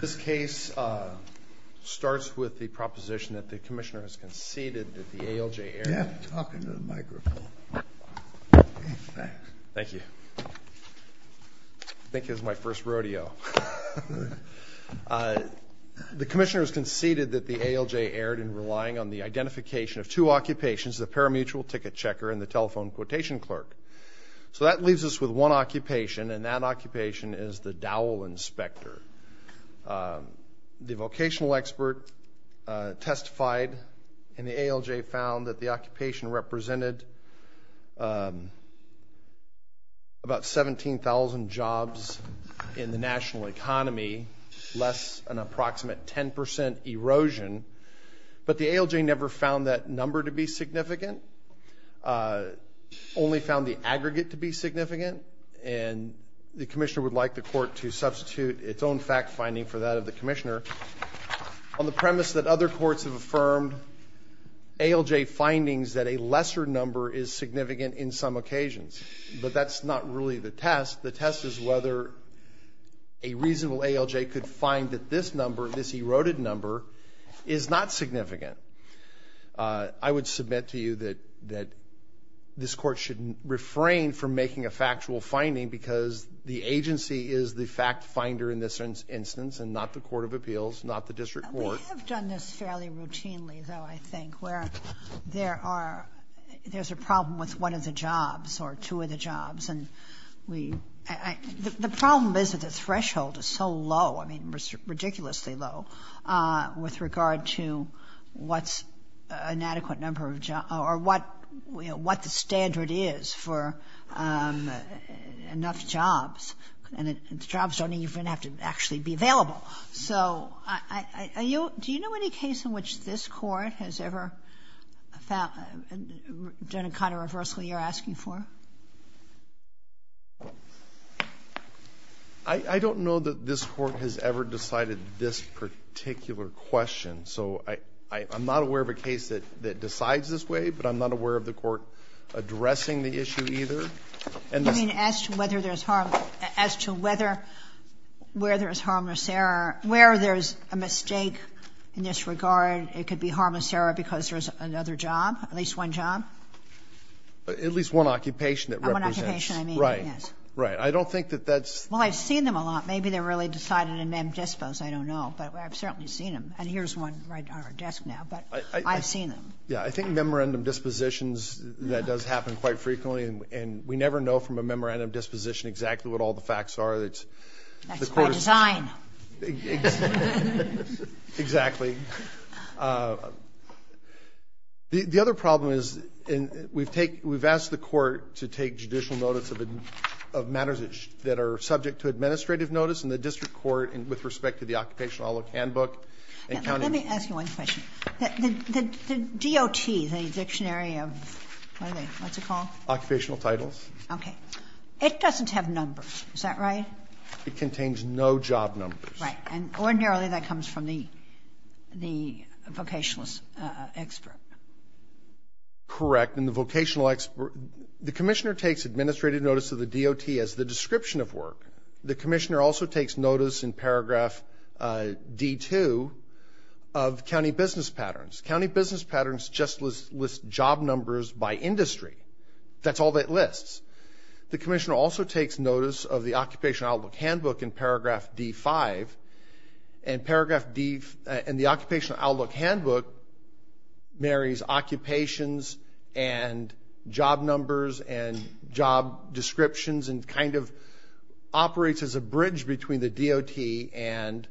This case starts with the proposition that the Commissioner has conceded that the ALJ erred in relying on the identification of two occupations, the parimutuel ticket checker and the telephone quotation clerk. So that leaves us with one occupation and that occupation is the dowel inspector. The vocational expert testified and the ALJ found that the occupation represented about 17,000 jobs in the national economy, less an approximate 10% erosion, but the ALJ never found that number to be significant, only found the aggregate to be significant, and the Commissioner would like the Court to substitute its own fact-finding for that of the Commissioner on the premise that other courts have affirmed ALJ findings that a lesser number is significant in some occasions. But that's not really the test. The test is whether a reasonable ALJ could find that this number, is not significant. I would submit to you that this Court should refrain from making a factual finding because the agency is the fact-finder in this instance and not the Court of Appeals, not the District Court. We have done this fairly routinely, though, I think, where there's a problem with one of the jobs or two of the jobs. The problem is that the threshold is so low, I mean, ridiculously low, with regard to what's an adequate number of jobs or what the standard is for enough jobs, and the jobs don't even have to actually be available. So do you know any case in which this Court has ever done a kind of reversal you're asking for? I don't know that this Court has ever decided this particular question. So I'm not aware of a case that decides this way, but I'm not aware of the Court addressing the issue either. You mean as to whether there's harm, as to whether, where there's harmless error, where there's a mistake in this regard, it could be harmless error because there's another job, at least one job? At least one occupation that represents. One occupation, I mean, yes. Right. Right. I don't think that that's... Well, I've seen them a lot. Maybe they're really decided in mem dispos. I don't know. But I've certainly seen them. And here's one right on our desk now. But I've seen them. Yeah, I think memorandum dispositions, that does happen quite frequently. And we never know from a memorandum disposition exactly what all the facts are. That's by design. Exactly. The other problem is we've asked the Court to take judicial notice of matters that are subject to administrative notice, and the district court, with respect to the occupational outlook handbook. Let me ask you one question. The DOT, the dictionary of, what are they, what's it called? Occupational titles. Okay. It doesn't have numbers. Is that right? It contains no job numbers. Right. And ordinarily that comes from the vocationalist expert. Correct. And the vocational expert, the Commissioner takes administrative notice of the DOT as the description of work. The Commissioner also takes notice in paragraph D-2 of county business patterns. County business patterns just list job numbers by industry. That's all that it lists. The Commissioner also takes notice of the occupational outlook handbook in paragraph D-5, and the occupational outlook handbook marries occupations and job numbers and job descriptions and kind of operates as a bridge between the DOT and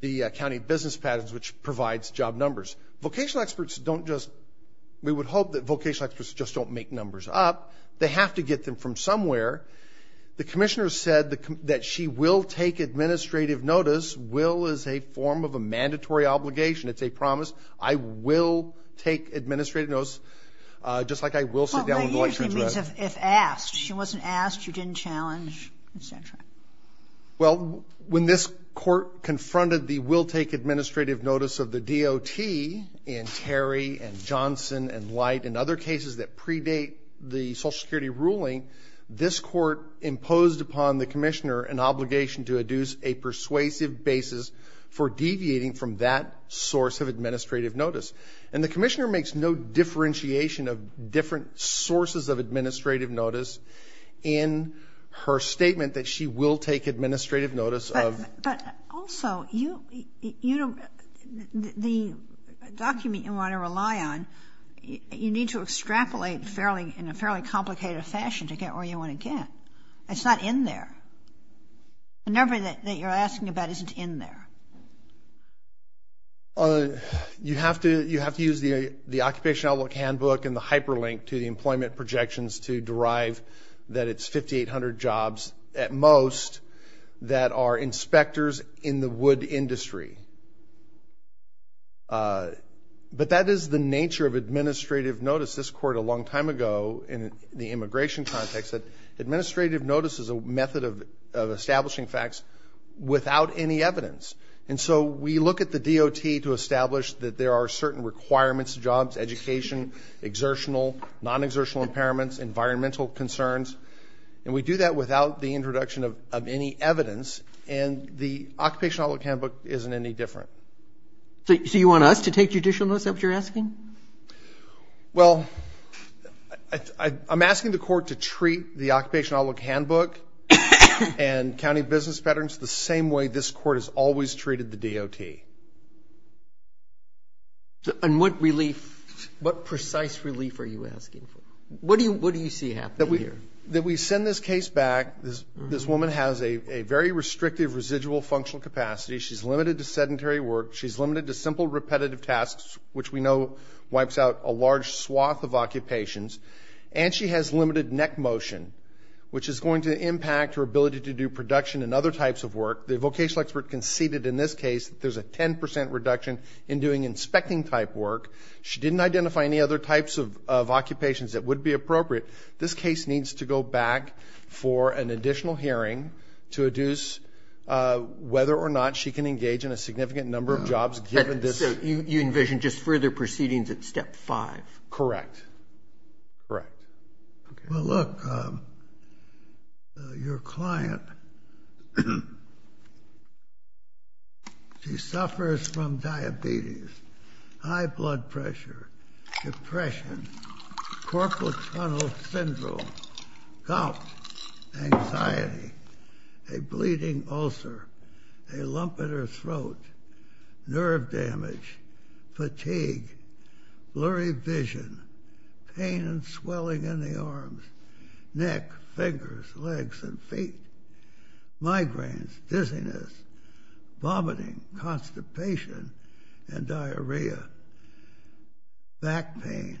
the county business patterns, which provides job numbers. Vocational experts don't just, we would hope that vocational experts just don't make numbers up. They have to get them from somewhere. The Commissioner said that she will take administrative notice. Will is a form of a mandatory obligation. It's a promise. I will take administrative notice, just like I will sit down with electrons. If asked. She wasn't asked, you didn't challenge, et cetera. Well, when this court confronted the will take administrative notice of the DOT in Terry and Johnson and Light and other cases that predate the Social Security ruling, this court imposed upon the Commissioner an obligation to adduce a persuasive basis for deviating from that source of administrative notice. And the Commissioner makes no differentiation of different sources of administrative notice in her statement that she will take administrative notice of. But also, you know, the document you want to rely on, you need to extrapolate in a fairly complicated fashion to get where you want to get. It's not in there. The number that you're asking about isn't in there. You have to use the occupation outlook handbook and the hyperlink to the employment projections to derive that it's 5,800 jobs at most that are inspectors in the wood industry. But that is the nature of administrative notice. ago in the immigration context that administrative notice is a method of establishing facts without any evidence. And so we look at the DOT to establish that there are certain requirements, jobs, education, exertional, non-exertional impairments, environmental concerns, and we do that without the introduction of any evidence. And the occupation outlook handbook isn't any different. So you want us to take judicial notice of what you're asking? Well, I'm asking the court to treat the occupation outlook handbook and county business patterns the same way this court has always treated the DOT. And what relief, what precise relief are you asking for? What do you see happening here? That we send this case back. This woman has a very restrictive residual functional capacity. She's limited to sedentary work. She's limited to simple repetitive tasks, which we know wipes out a large swath of occupations. And she has limited neck motion, which is going to impact her ability to do production and other types of work. The vocational expert conceded in this case that there's a 10 percent reduction in doing inspecting-type work. She didn't identify any other types of occupations that would be appropriate. This case needs to go back for an additional hearing to adduce whether or not she can engage in a significant number of jobs given this. So you envision just further proceedings at step five? Correct. Correct. Well, look, your client, she suffers from diabetes, high blood pressure, depression, corporal tunnel syndrome, gout, anxiety, a bleeding ulcer, a lump in her throat, nerve damage, fatigue, blurry vision, pain and swelling in the arms, neck, fingers, legs, and feet, migraines, dizziness, vomiting, constipation, and diarrhea, back pain,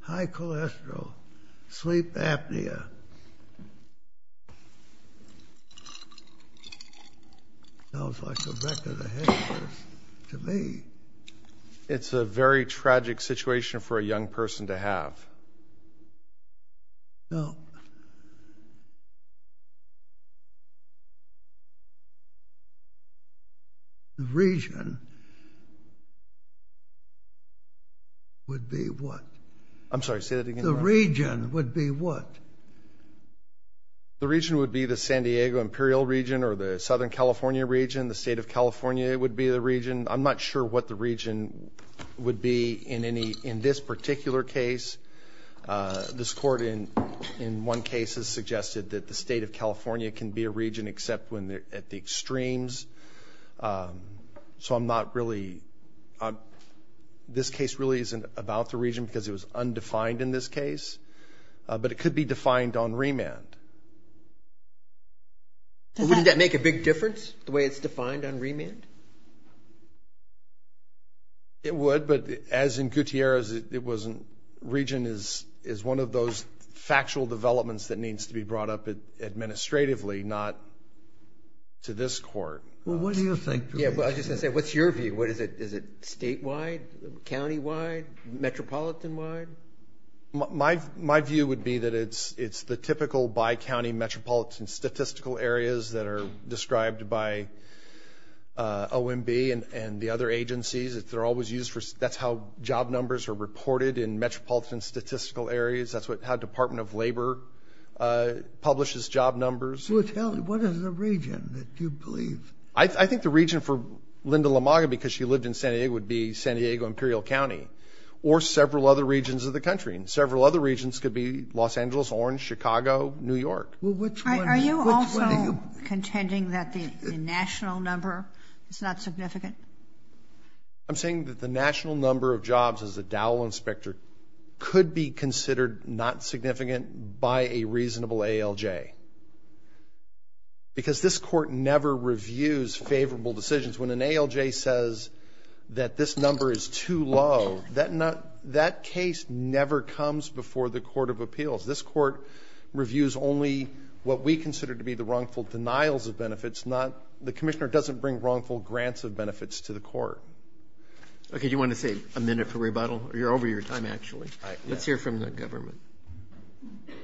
high cholesterol, sleep apnea. Sounds like a record of history to me. It's a very tragic situation for a young person to have. No. The region would be what? I'm sorry, say that again. The region would be what? The region would be the San Diego Imperial Region or the Southern California Region. The State of California would be the region. I'm not sure what the region would be in this particular case. This court in one case has suggested that the State of California can be a region except when they're at the extremes. So I'm not really, this case really isn't about the region because it was undefined in this case. But it could be defined on remand. Wouldn't that make a big difference, the way it's defined on remand? It would, but as in Gutierrez, it wasn't. Region is one of those factual developments that needs to be brought up administratively, not to this court. Well, what do you think? Yeah, well, I was just going to say, what's your view? Is it statewide, countywide, metropolitan-wide? My view would be that it's the typical bi-county metropolitan statistical areas that are described by OMB and the other agencies. They're always used for, that's how job numbers are reported in metropolitan statistical areas. That's how Department of Labor publishes job numbers. Well, tell me, what is the region that you believe? I think the region for Linda LaMaga, because she lived in San Diego, would be San Diego, Imperial County, or several other regions of the country. And several other regions could be Los Angeles, Orange, Chicago, New York. Are you also contending that the national number is not significant? I'm saying that the national number of jobs as a Dowell inspector could be considered not significant by a reasonable ALJ. Because this court never reviews favorable decisions. When an ALJ says that this number is too low, that case never comes before the court of appeals. This court reviews only what we consider to be the wrongful denials of benefits, not the commissioner doesn't bring wrongful grants of benefits to the court. Okay, do you want to save a minute for rebuttal? You're over your time, actually. All right. Let's hear from the government. Thank you.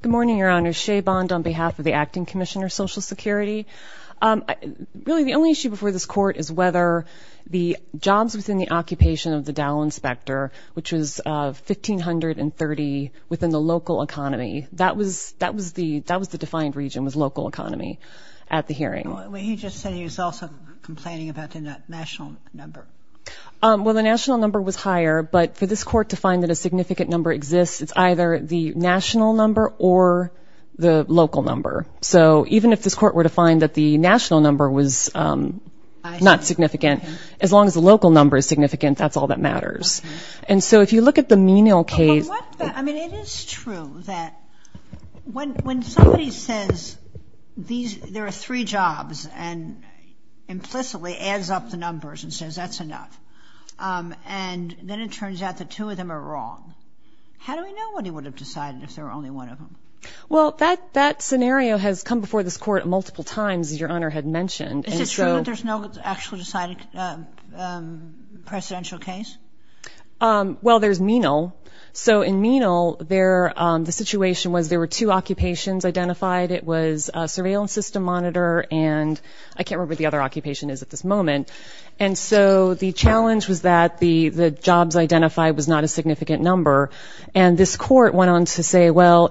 Good morning, Your Honor. Shea Bond on behalf of the Acting Commissioner of Social Security. Really, the only issue before this court is whether the jobs within the occupation of the Dowell inspector, which was 1,530 within the local economy, that was the defined region was local economy at the hearing. He just said he was also complaining about the national number. Well, the national number was higher, but for this court to find that a significant number exists, it's either the national number or the local number. So even if this court were to find that the national number was not significant, as long as the local number is significant, that's all that matters. And so if you look at the menial case. I mean, it is true that when somebody says there are three jobs and implicitly adds up the numbers and says that's enough, and then it turns out the two of them are wrong, how do we know when he would have decided if there were only one of them? Well, that scenario has come before this court multiple times, as Your Honor had mentioned. Is it true that there's no actually decided presidential case? Well, there's menial. So in menial, the situation was there were two occupations identified. It was surveillance system monitor, and I can't remember what the other occupation is at this moment. And so the challenge was that the jobs identified was not a significant number, and this court went on to say, well,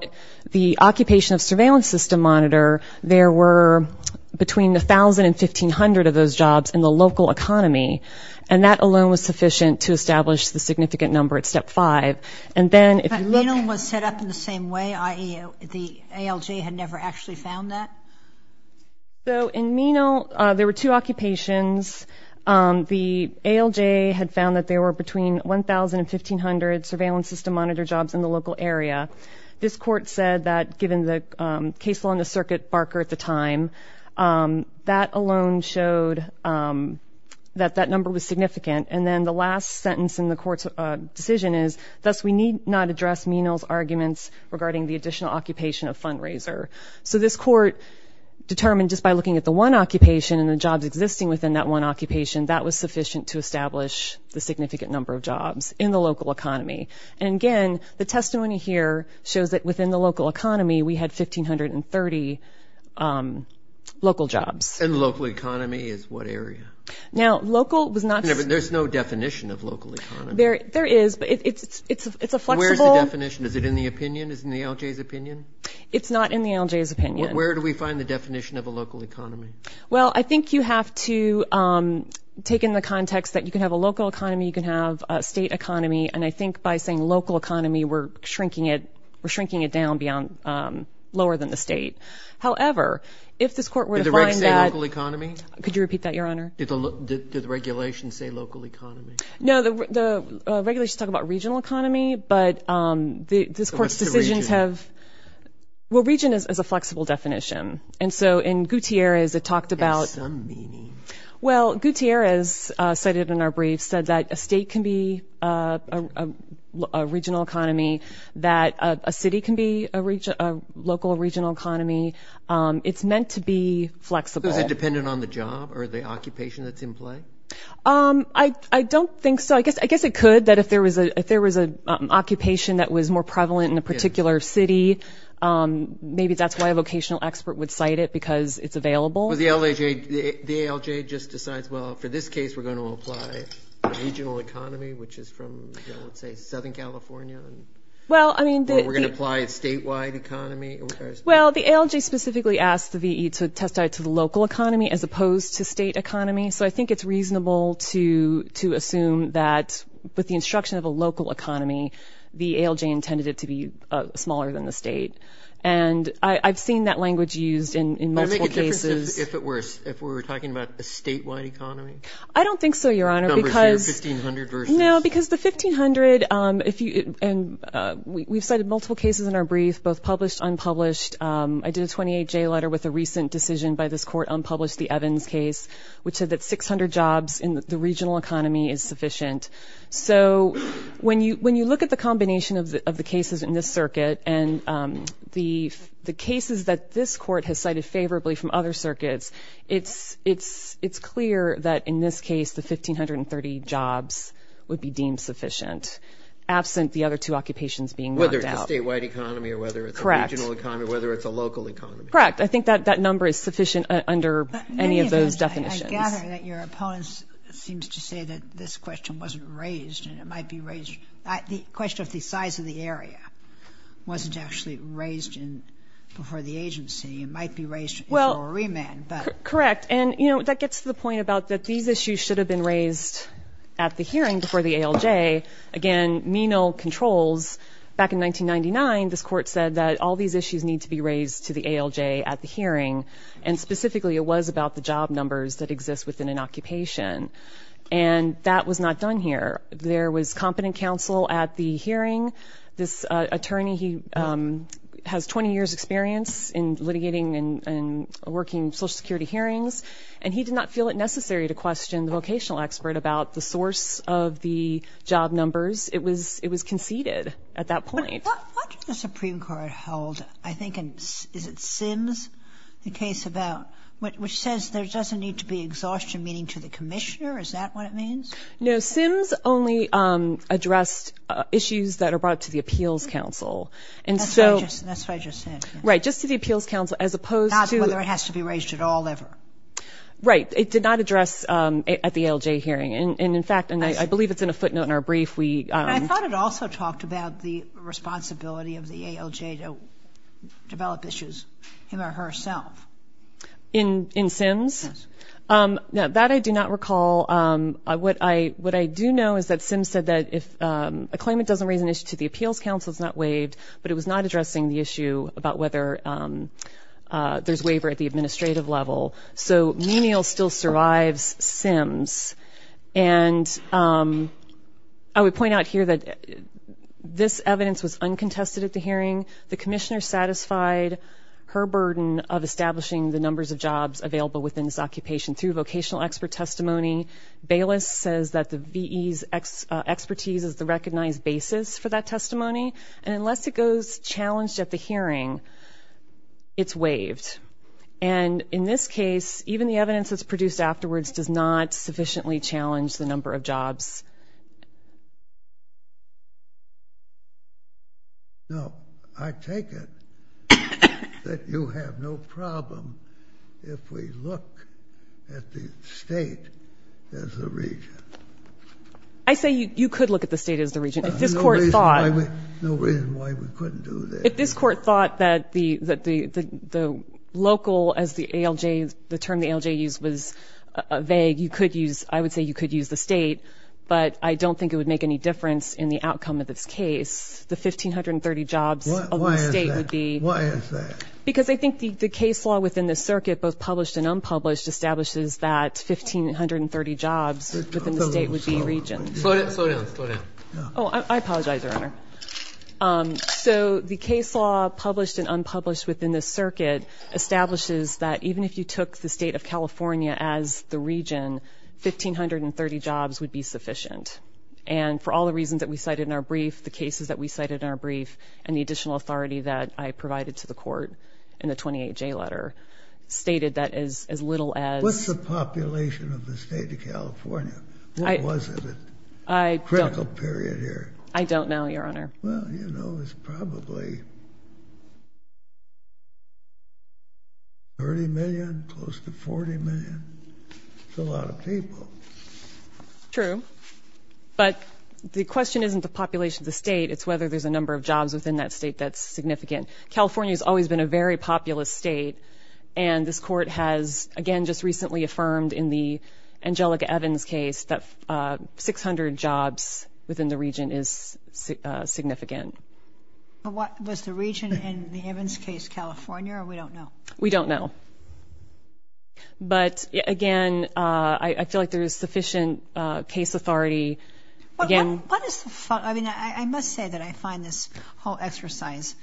the occupation of surveillance system monitor, there were between 1,000 and 1,500 of those jobs in the local economy, and that alone was sufficient to establish the significant number at step five. But menial was set up in the same way, i.e., the ALJ had never actually found that? So in menial, there were two occupations. The ALJ had found that there were between 1,000 and 1,500 surveillance system monitor jobs in the local area. This court said that given the case law in the circuit barker at the time, that alone showed that that number was significant. And then the last sentence in the court's decision is, thus we need not address menial's arguments regarding the additional occupation of fundraiser. So this court determined just by looking at the one occupation and the jobs existing within that one occupation, that was sufficient to establish the significant number of jobs in the local economy. And again, the testimony here shows that within the local economy, we had 1,530 local jobs. And local economy is what area? Now, local was not- There's no definition of local economy. There is, but it's a flexible- Where is the definition? Is it in the opinion? Is it in the ALJ's opinion? It's not in the ALJ's opinion. Where do we find the definition of a local economy? Well, I think you have to take in the context that you can have a local economy, you can have a state economy, and I think by saying local economy, we're shrinking it down lower than the state. However, if this court were to find that- Did the regs say local economy? Could you repeat that, Your Honor? Did the regulations say local economy? No, the regulations talk about regional economy, but this court's decisions have- What's the region? Well, region is a flexible definition. And so in Gutierrez, it talked about- It has some meaning. Well, Gutierrez cited in our brief said that a state can be a regional economy, that a city can be a local regional economy. It's meant to be flexible. Is it dependent on the job or the occupation that's in play? I don't think so. I guess it could, that if there was an occupation that was more prevalent in a particular city, maybe that's why a vocational expert would cite it because it's available. The ALJ just decides, well, for this case, we're going to apply a regional economy, which is from, let's say, Southern California. Or we're going to apply a statewide economy. Well, the ALJ specifically asked the VE to testify to the local economy as opposed to state economy. So I think it's reasonable to assume that with the instruction of a local economy, the ALJ intended it to be smaller than the state. And I've seen that language used in multiple cases. Would it make a difference if we were talking about a statewide economy? I don't think so, Your Honor, because- Numbers here, 1,500 versus- No, because the 1,500, and we've cited multiple cases in our brief, both published, unpublished. I did a 28-J letter with a recent decision by this court unpublished the Evans case, which said that 600 jobs in the regional economy is sufficient. So when you look at the combination of the cases in this circuit and the cases that this court has cited favorably from other circuits, it's clear that in this case the 1,530 jobs would be deemed sufficient, absent the other two occupations being worked out. Whether it's a statewide economy or whether it's a regional economy, whether it's a local economy. Correct. I think that number is sufficient under any of those definitions. I gather that your opponents seem to say that this question wasn't raised and it might be raised- the question of the size of the area wasn't actually raised before the agency. It might be raised in a remand, but- Correct. And, you know, that gets to the point about that these issues should have been raised at the hearing before the ALJ. Again, menial controls. Back in 1999, this court said that all these issues need to be raised to the ALJ at the hearing, and specifically it was about the job numbers that exist within an occupation. And that was not done here. There was competent counsel at the hearing. This attorney, he has 20 years' experience in litigating and working social security hearings, and he did not feel it necessary to question the vocational expert about the source of the job numbers. It was conceded at that point. What did the Supreme Court hold? I think in- is it Sims, the case about- which says there doesn't need to be exhaustion, meaning to the commissioner? Is that what it means? No, Sims only addressed issues that are brought to the appeals counsel. And so- That's what I just said. Right. Just to the appeals counsel, as opposed to- Not whether it has to be raised at all ever. Right. It did not address at the ALJ hearing. And, in fact, and I believe it's in a footnote in our brief, we- And I thought it also talked about the responsibility of the ALJ to develop issues, him or herself. In Sims? Yes. Now, that I do not recall. What I do know is that Sims said that if a claimant doesn't raise an issue to the appeals counsel, it's not waived, but it was not addressing the issue about whether there's waiver at the administrative level. So Menial still survives Sims. And I would point out here that this evidence was uncontested at the hearing. The commissioner satisfied her burden of establishing the numbers of jobs available within this occupation through vocational expert testimony. Bayless says that the V.E.'s expertise is the recognized basis for that testimony. And unless it goes challenged at the hearing, it's waived. And, in this case, even the evidence that's produced afterwards does not sufficiently challenge the number of jobs. No. I take it that you have no problem if we look at the state as the region. I say you could look at the state as the region. If this court thought- No reason why we couldn't do that. If this court thought that the local, as the term the ALJ used, was vague, I would say you could use the state, but I don't think it would make any difference in the outcome of this case. The 1,530 jobs of the state would be- Why is that? Because I think the case law within the circuit, both published and unpublished, establishes that 1,530 jobs within the state would be regions. Oh, I apologize, Your Honor. So, the case law, published and unpublished within this circuit, establishes that even if you took the state of California as the region, 1,530 jobs would be sufficient. And, for all the reasons that we cited in our brief, the cases that we cited in our brief, and the additional authority that I provided to the court in the 28J letter, stated that as little as- What's the population of the state of California? What was it at critical period here? I don't know, Your Honor. Well, you know, it's probably 30 million, close to 40 million. That's a lot of people. True. But, the question isn't the population of the state, it's whether there's a number of jobs within that state that's significant. California's always been a very populous state, and this court has, again, just recently affirmed in the Angelica Evans case, that 600 jobs within the region is significant. Was the region in the Evans case California, or we don't know? We don't know. But, again, I feel like there is sufficient case authority. I must say that I find this whole exercise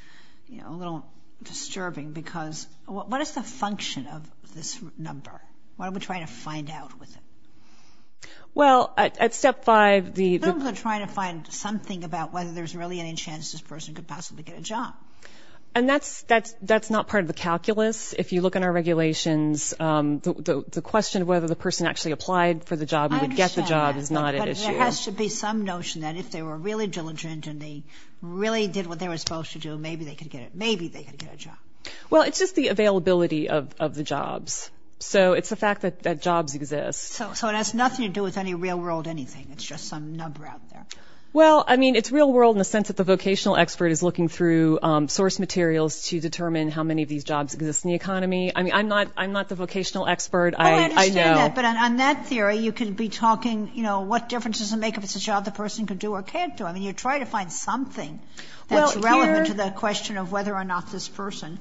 a little disturbing, because what is the function of this number? What are we trying to find out with it? Well, at step five- We're trying to find something about whether there's really any chance this person could possibly get a job. And that's not part of the calculus. If you look in our regulations, the question of whether the person actually applied for the job and would get the job is not at issue. But there has to be some notion that if they were really diligent and they really did what they were supposed to do, maybe they could get it. Maybe they could get a job. Well, it's just the availability of the jobs. So it's the fact that jobs exist. So it has nothing to do with any real-world anything. It's just some number out there. Well, I mean, it's real-world in the sense that the vocational expert is looking through source materials to determine how many of these jobs exist in the economy. I mean, I'm not the vocational expert. I know. I understand that. But on that theory, you could be talking, you know, what difference does it make if it's a job the person could do or can't do? I mean, you're trying to find something that's relevant to the question of whether or not this person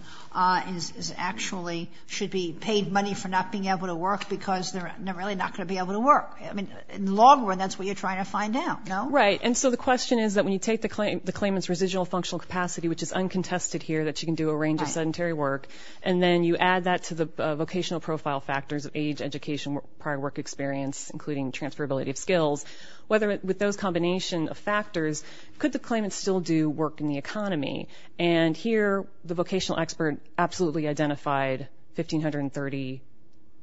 is actually should be paid money for not being able to work because they're really not going to be able to work. I mean, in the long run, that's what you're trying to find out, no? Right. And so the question is that when you take the claimant's residual functional capacity, which is uncontested here, that you can do a range of sedentary work, and then you add that to the vocational profile factors of age, education, prior work experience, including transferability of skills, whether with those combination of factors, could the claimant still do work in the economy? And here, the vocational expert absolutely identified 1,530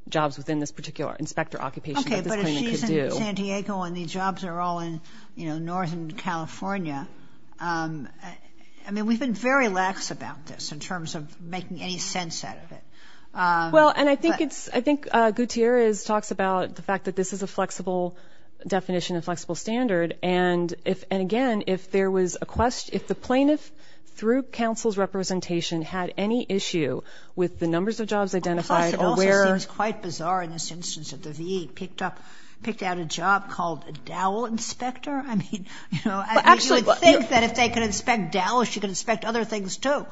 jobs within this particular inspector occupation that this claimant could do. Okay, but if she's in San Diego and the jobs are all in, you know, northern California, I mean, we've been very lax about this in terms of making any sense out of it. Well, and I think Gutierrez talks about the fact that this is a flexible definition and flexible standard. And, again, if there was a question – if the plaintiff, through counsel's representation, had any issue with the numbers of jobs identified or where – Plus, it also seems quite bizarre in this instance that the VE picked up – picked out a job called a dowel inspector. I mean, you know, you would think that if they could inspect dowels, she could inspect other things too.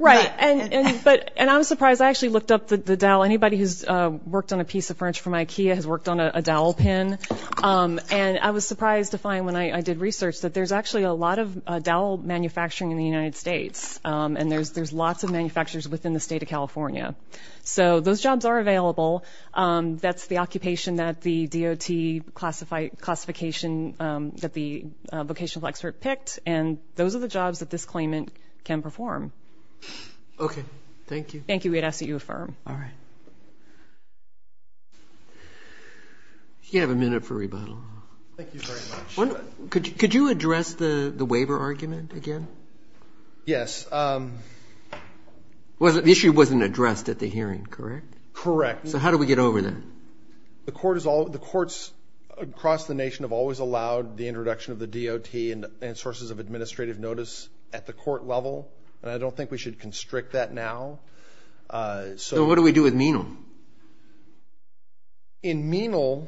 Right. And I'm surprised. I actually looked up the dowel. Anybody who's worked on a piece of furniture from Ikea has worked on a dowel pin. And I was surprised to find, when I did research, that there's actually a lot of dowel manufacturing in the United States, and there's lots of manufacturers within the state of California. So those jobs are available. That's the occupation that the DOT classification – that the vocational expert picked, and those are the jobs that this claimant can perform. Okay. Thank you. Thank you. We'd ask that you affirm. All right. You have a minute for rebuttal. Thank you very much. Could you address the waiver argument again? Yes. The issue wasn't addressed at the hearing, correct? Correct. So how do we get over that? The courts across the nation have always allowed the introduction of the DOT and sources of administrative notice at the court level, and I don't think we should constrict that now. So what do we do with Menal? In Menal,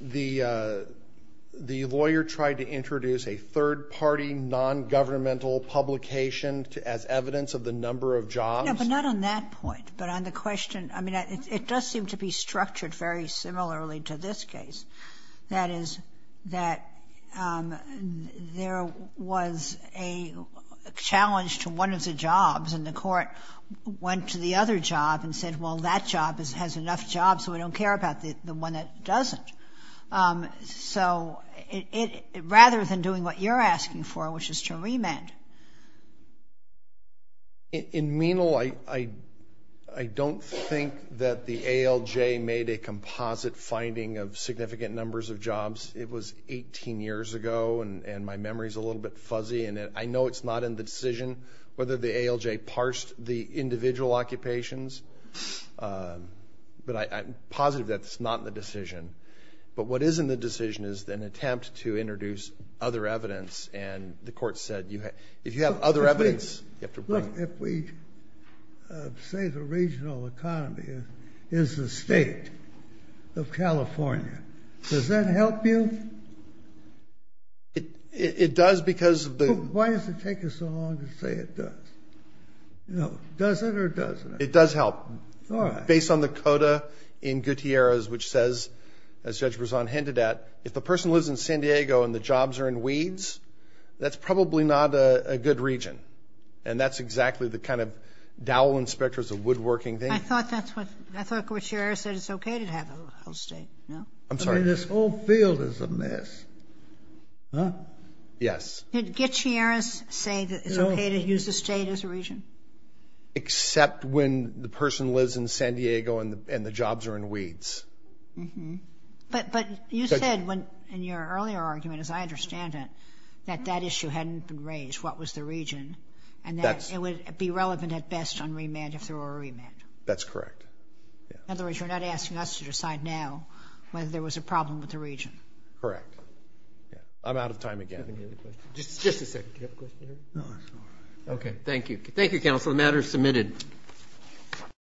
the lawyer tried to introduce a third-party, non-governmental publication as evidence of the number of jobs. No, but not on that point, but on the question – I mean, it does seem to be structured very similarly to this case. That is, that there was a challenge to one of the jobs, and the court went to the other job and said, well, that job has enough jobs, so we don't care about the one that doesn't. So rather than doing what you're asking for, which is to remand. In Menal, I don't think that the ALJ made a composite finding of significant numbers of jobs. It was 18 years ago, and my memory is a little bit fuzzy, and I know it's not in the decision whether the ALJ parsed the individual occupations, but I'm positive that's not in the decision. But what is in the decision is an attempt to introduce other evidence, and the court said if you have other evidence, you have to bring it. Look, if we say the regional economy is the state of California, does that help you? It does because the Why does it take us so long to say it does? No. Does it or doesn't it? It does help. All right. Based on the CODA in Gutierrez, which says, as Judge Brezon hinted at, if the person lives in San Diego and the jobs are in weeds, that's probably not a good region, and that's exactly the kind of dowel inspectors of woodworking thing. I thought Gutierrez said it's okay to have a state. I'm sorry. This whole field is a mess. Yes. Did Gutierrez say that it's okay to use the state as a region? Except when the person lives in San Diego and the jobs are in weeds. But you said in your earlier argument, as I understand it, that that issue hadn't been raised, what was the region, and that it would be relevant at best on remand if there were a remand. That's correct. In other words, you're not asking us to decide now whether there was a problem with the region. Correct. I'm out of time again. Just a second. Do you have a question? No, that's all right. Okay. Thank you. Thank you, counsel.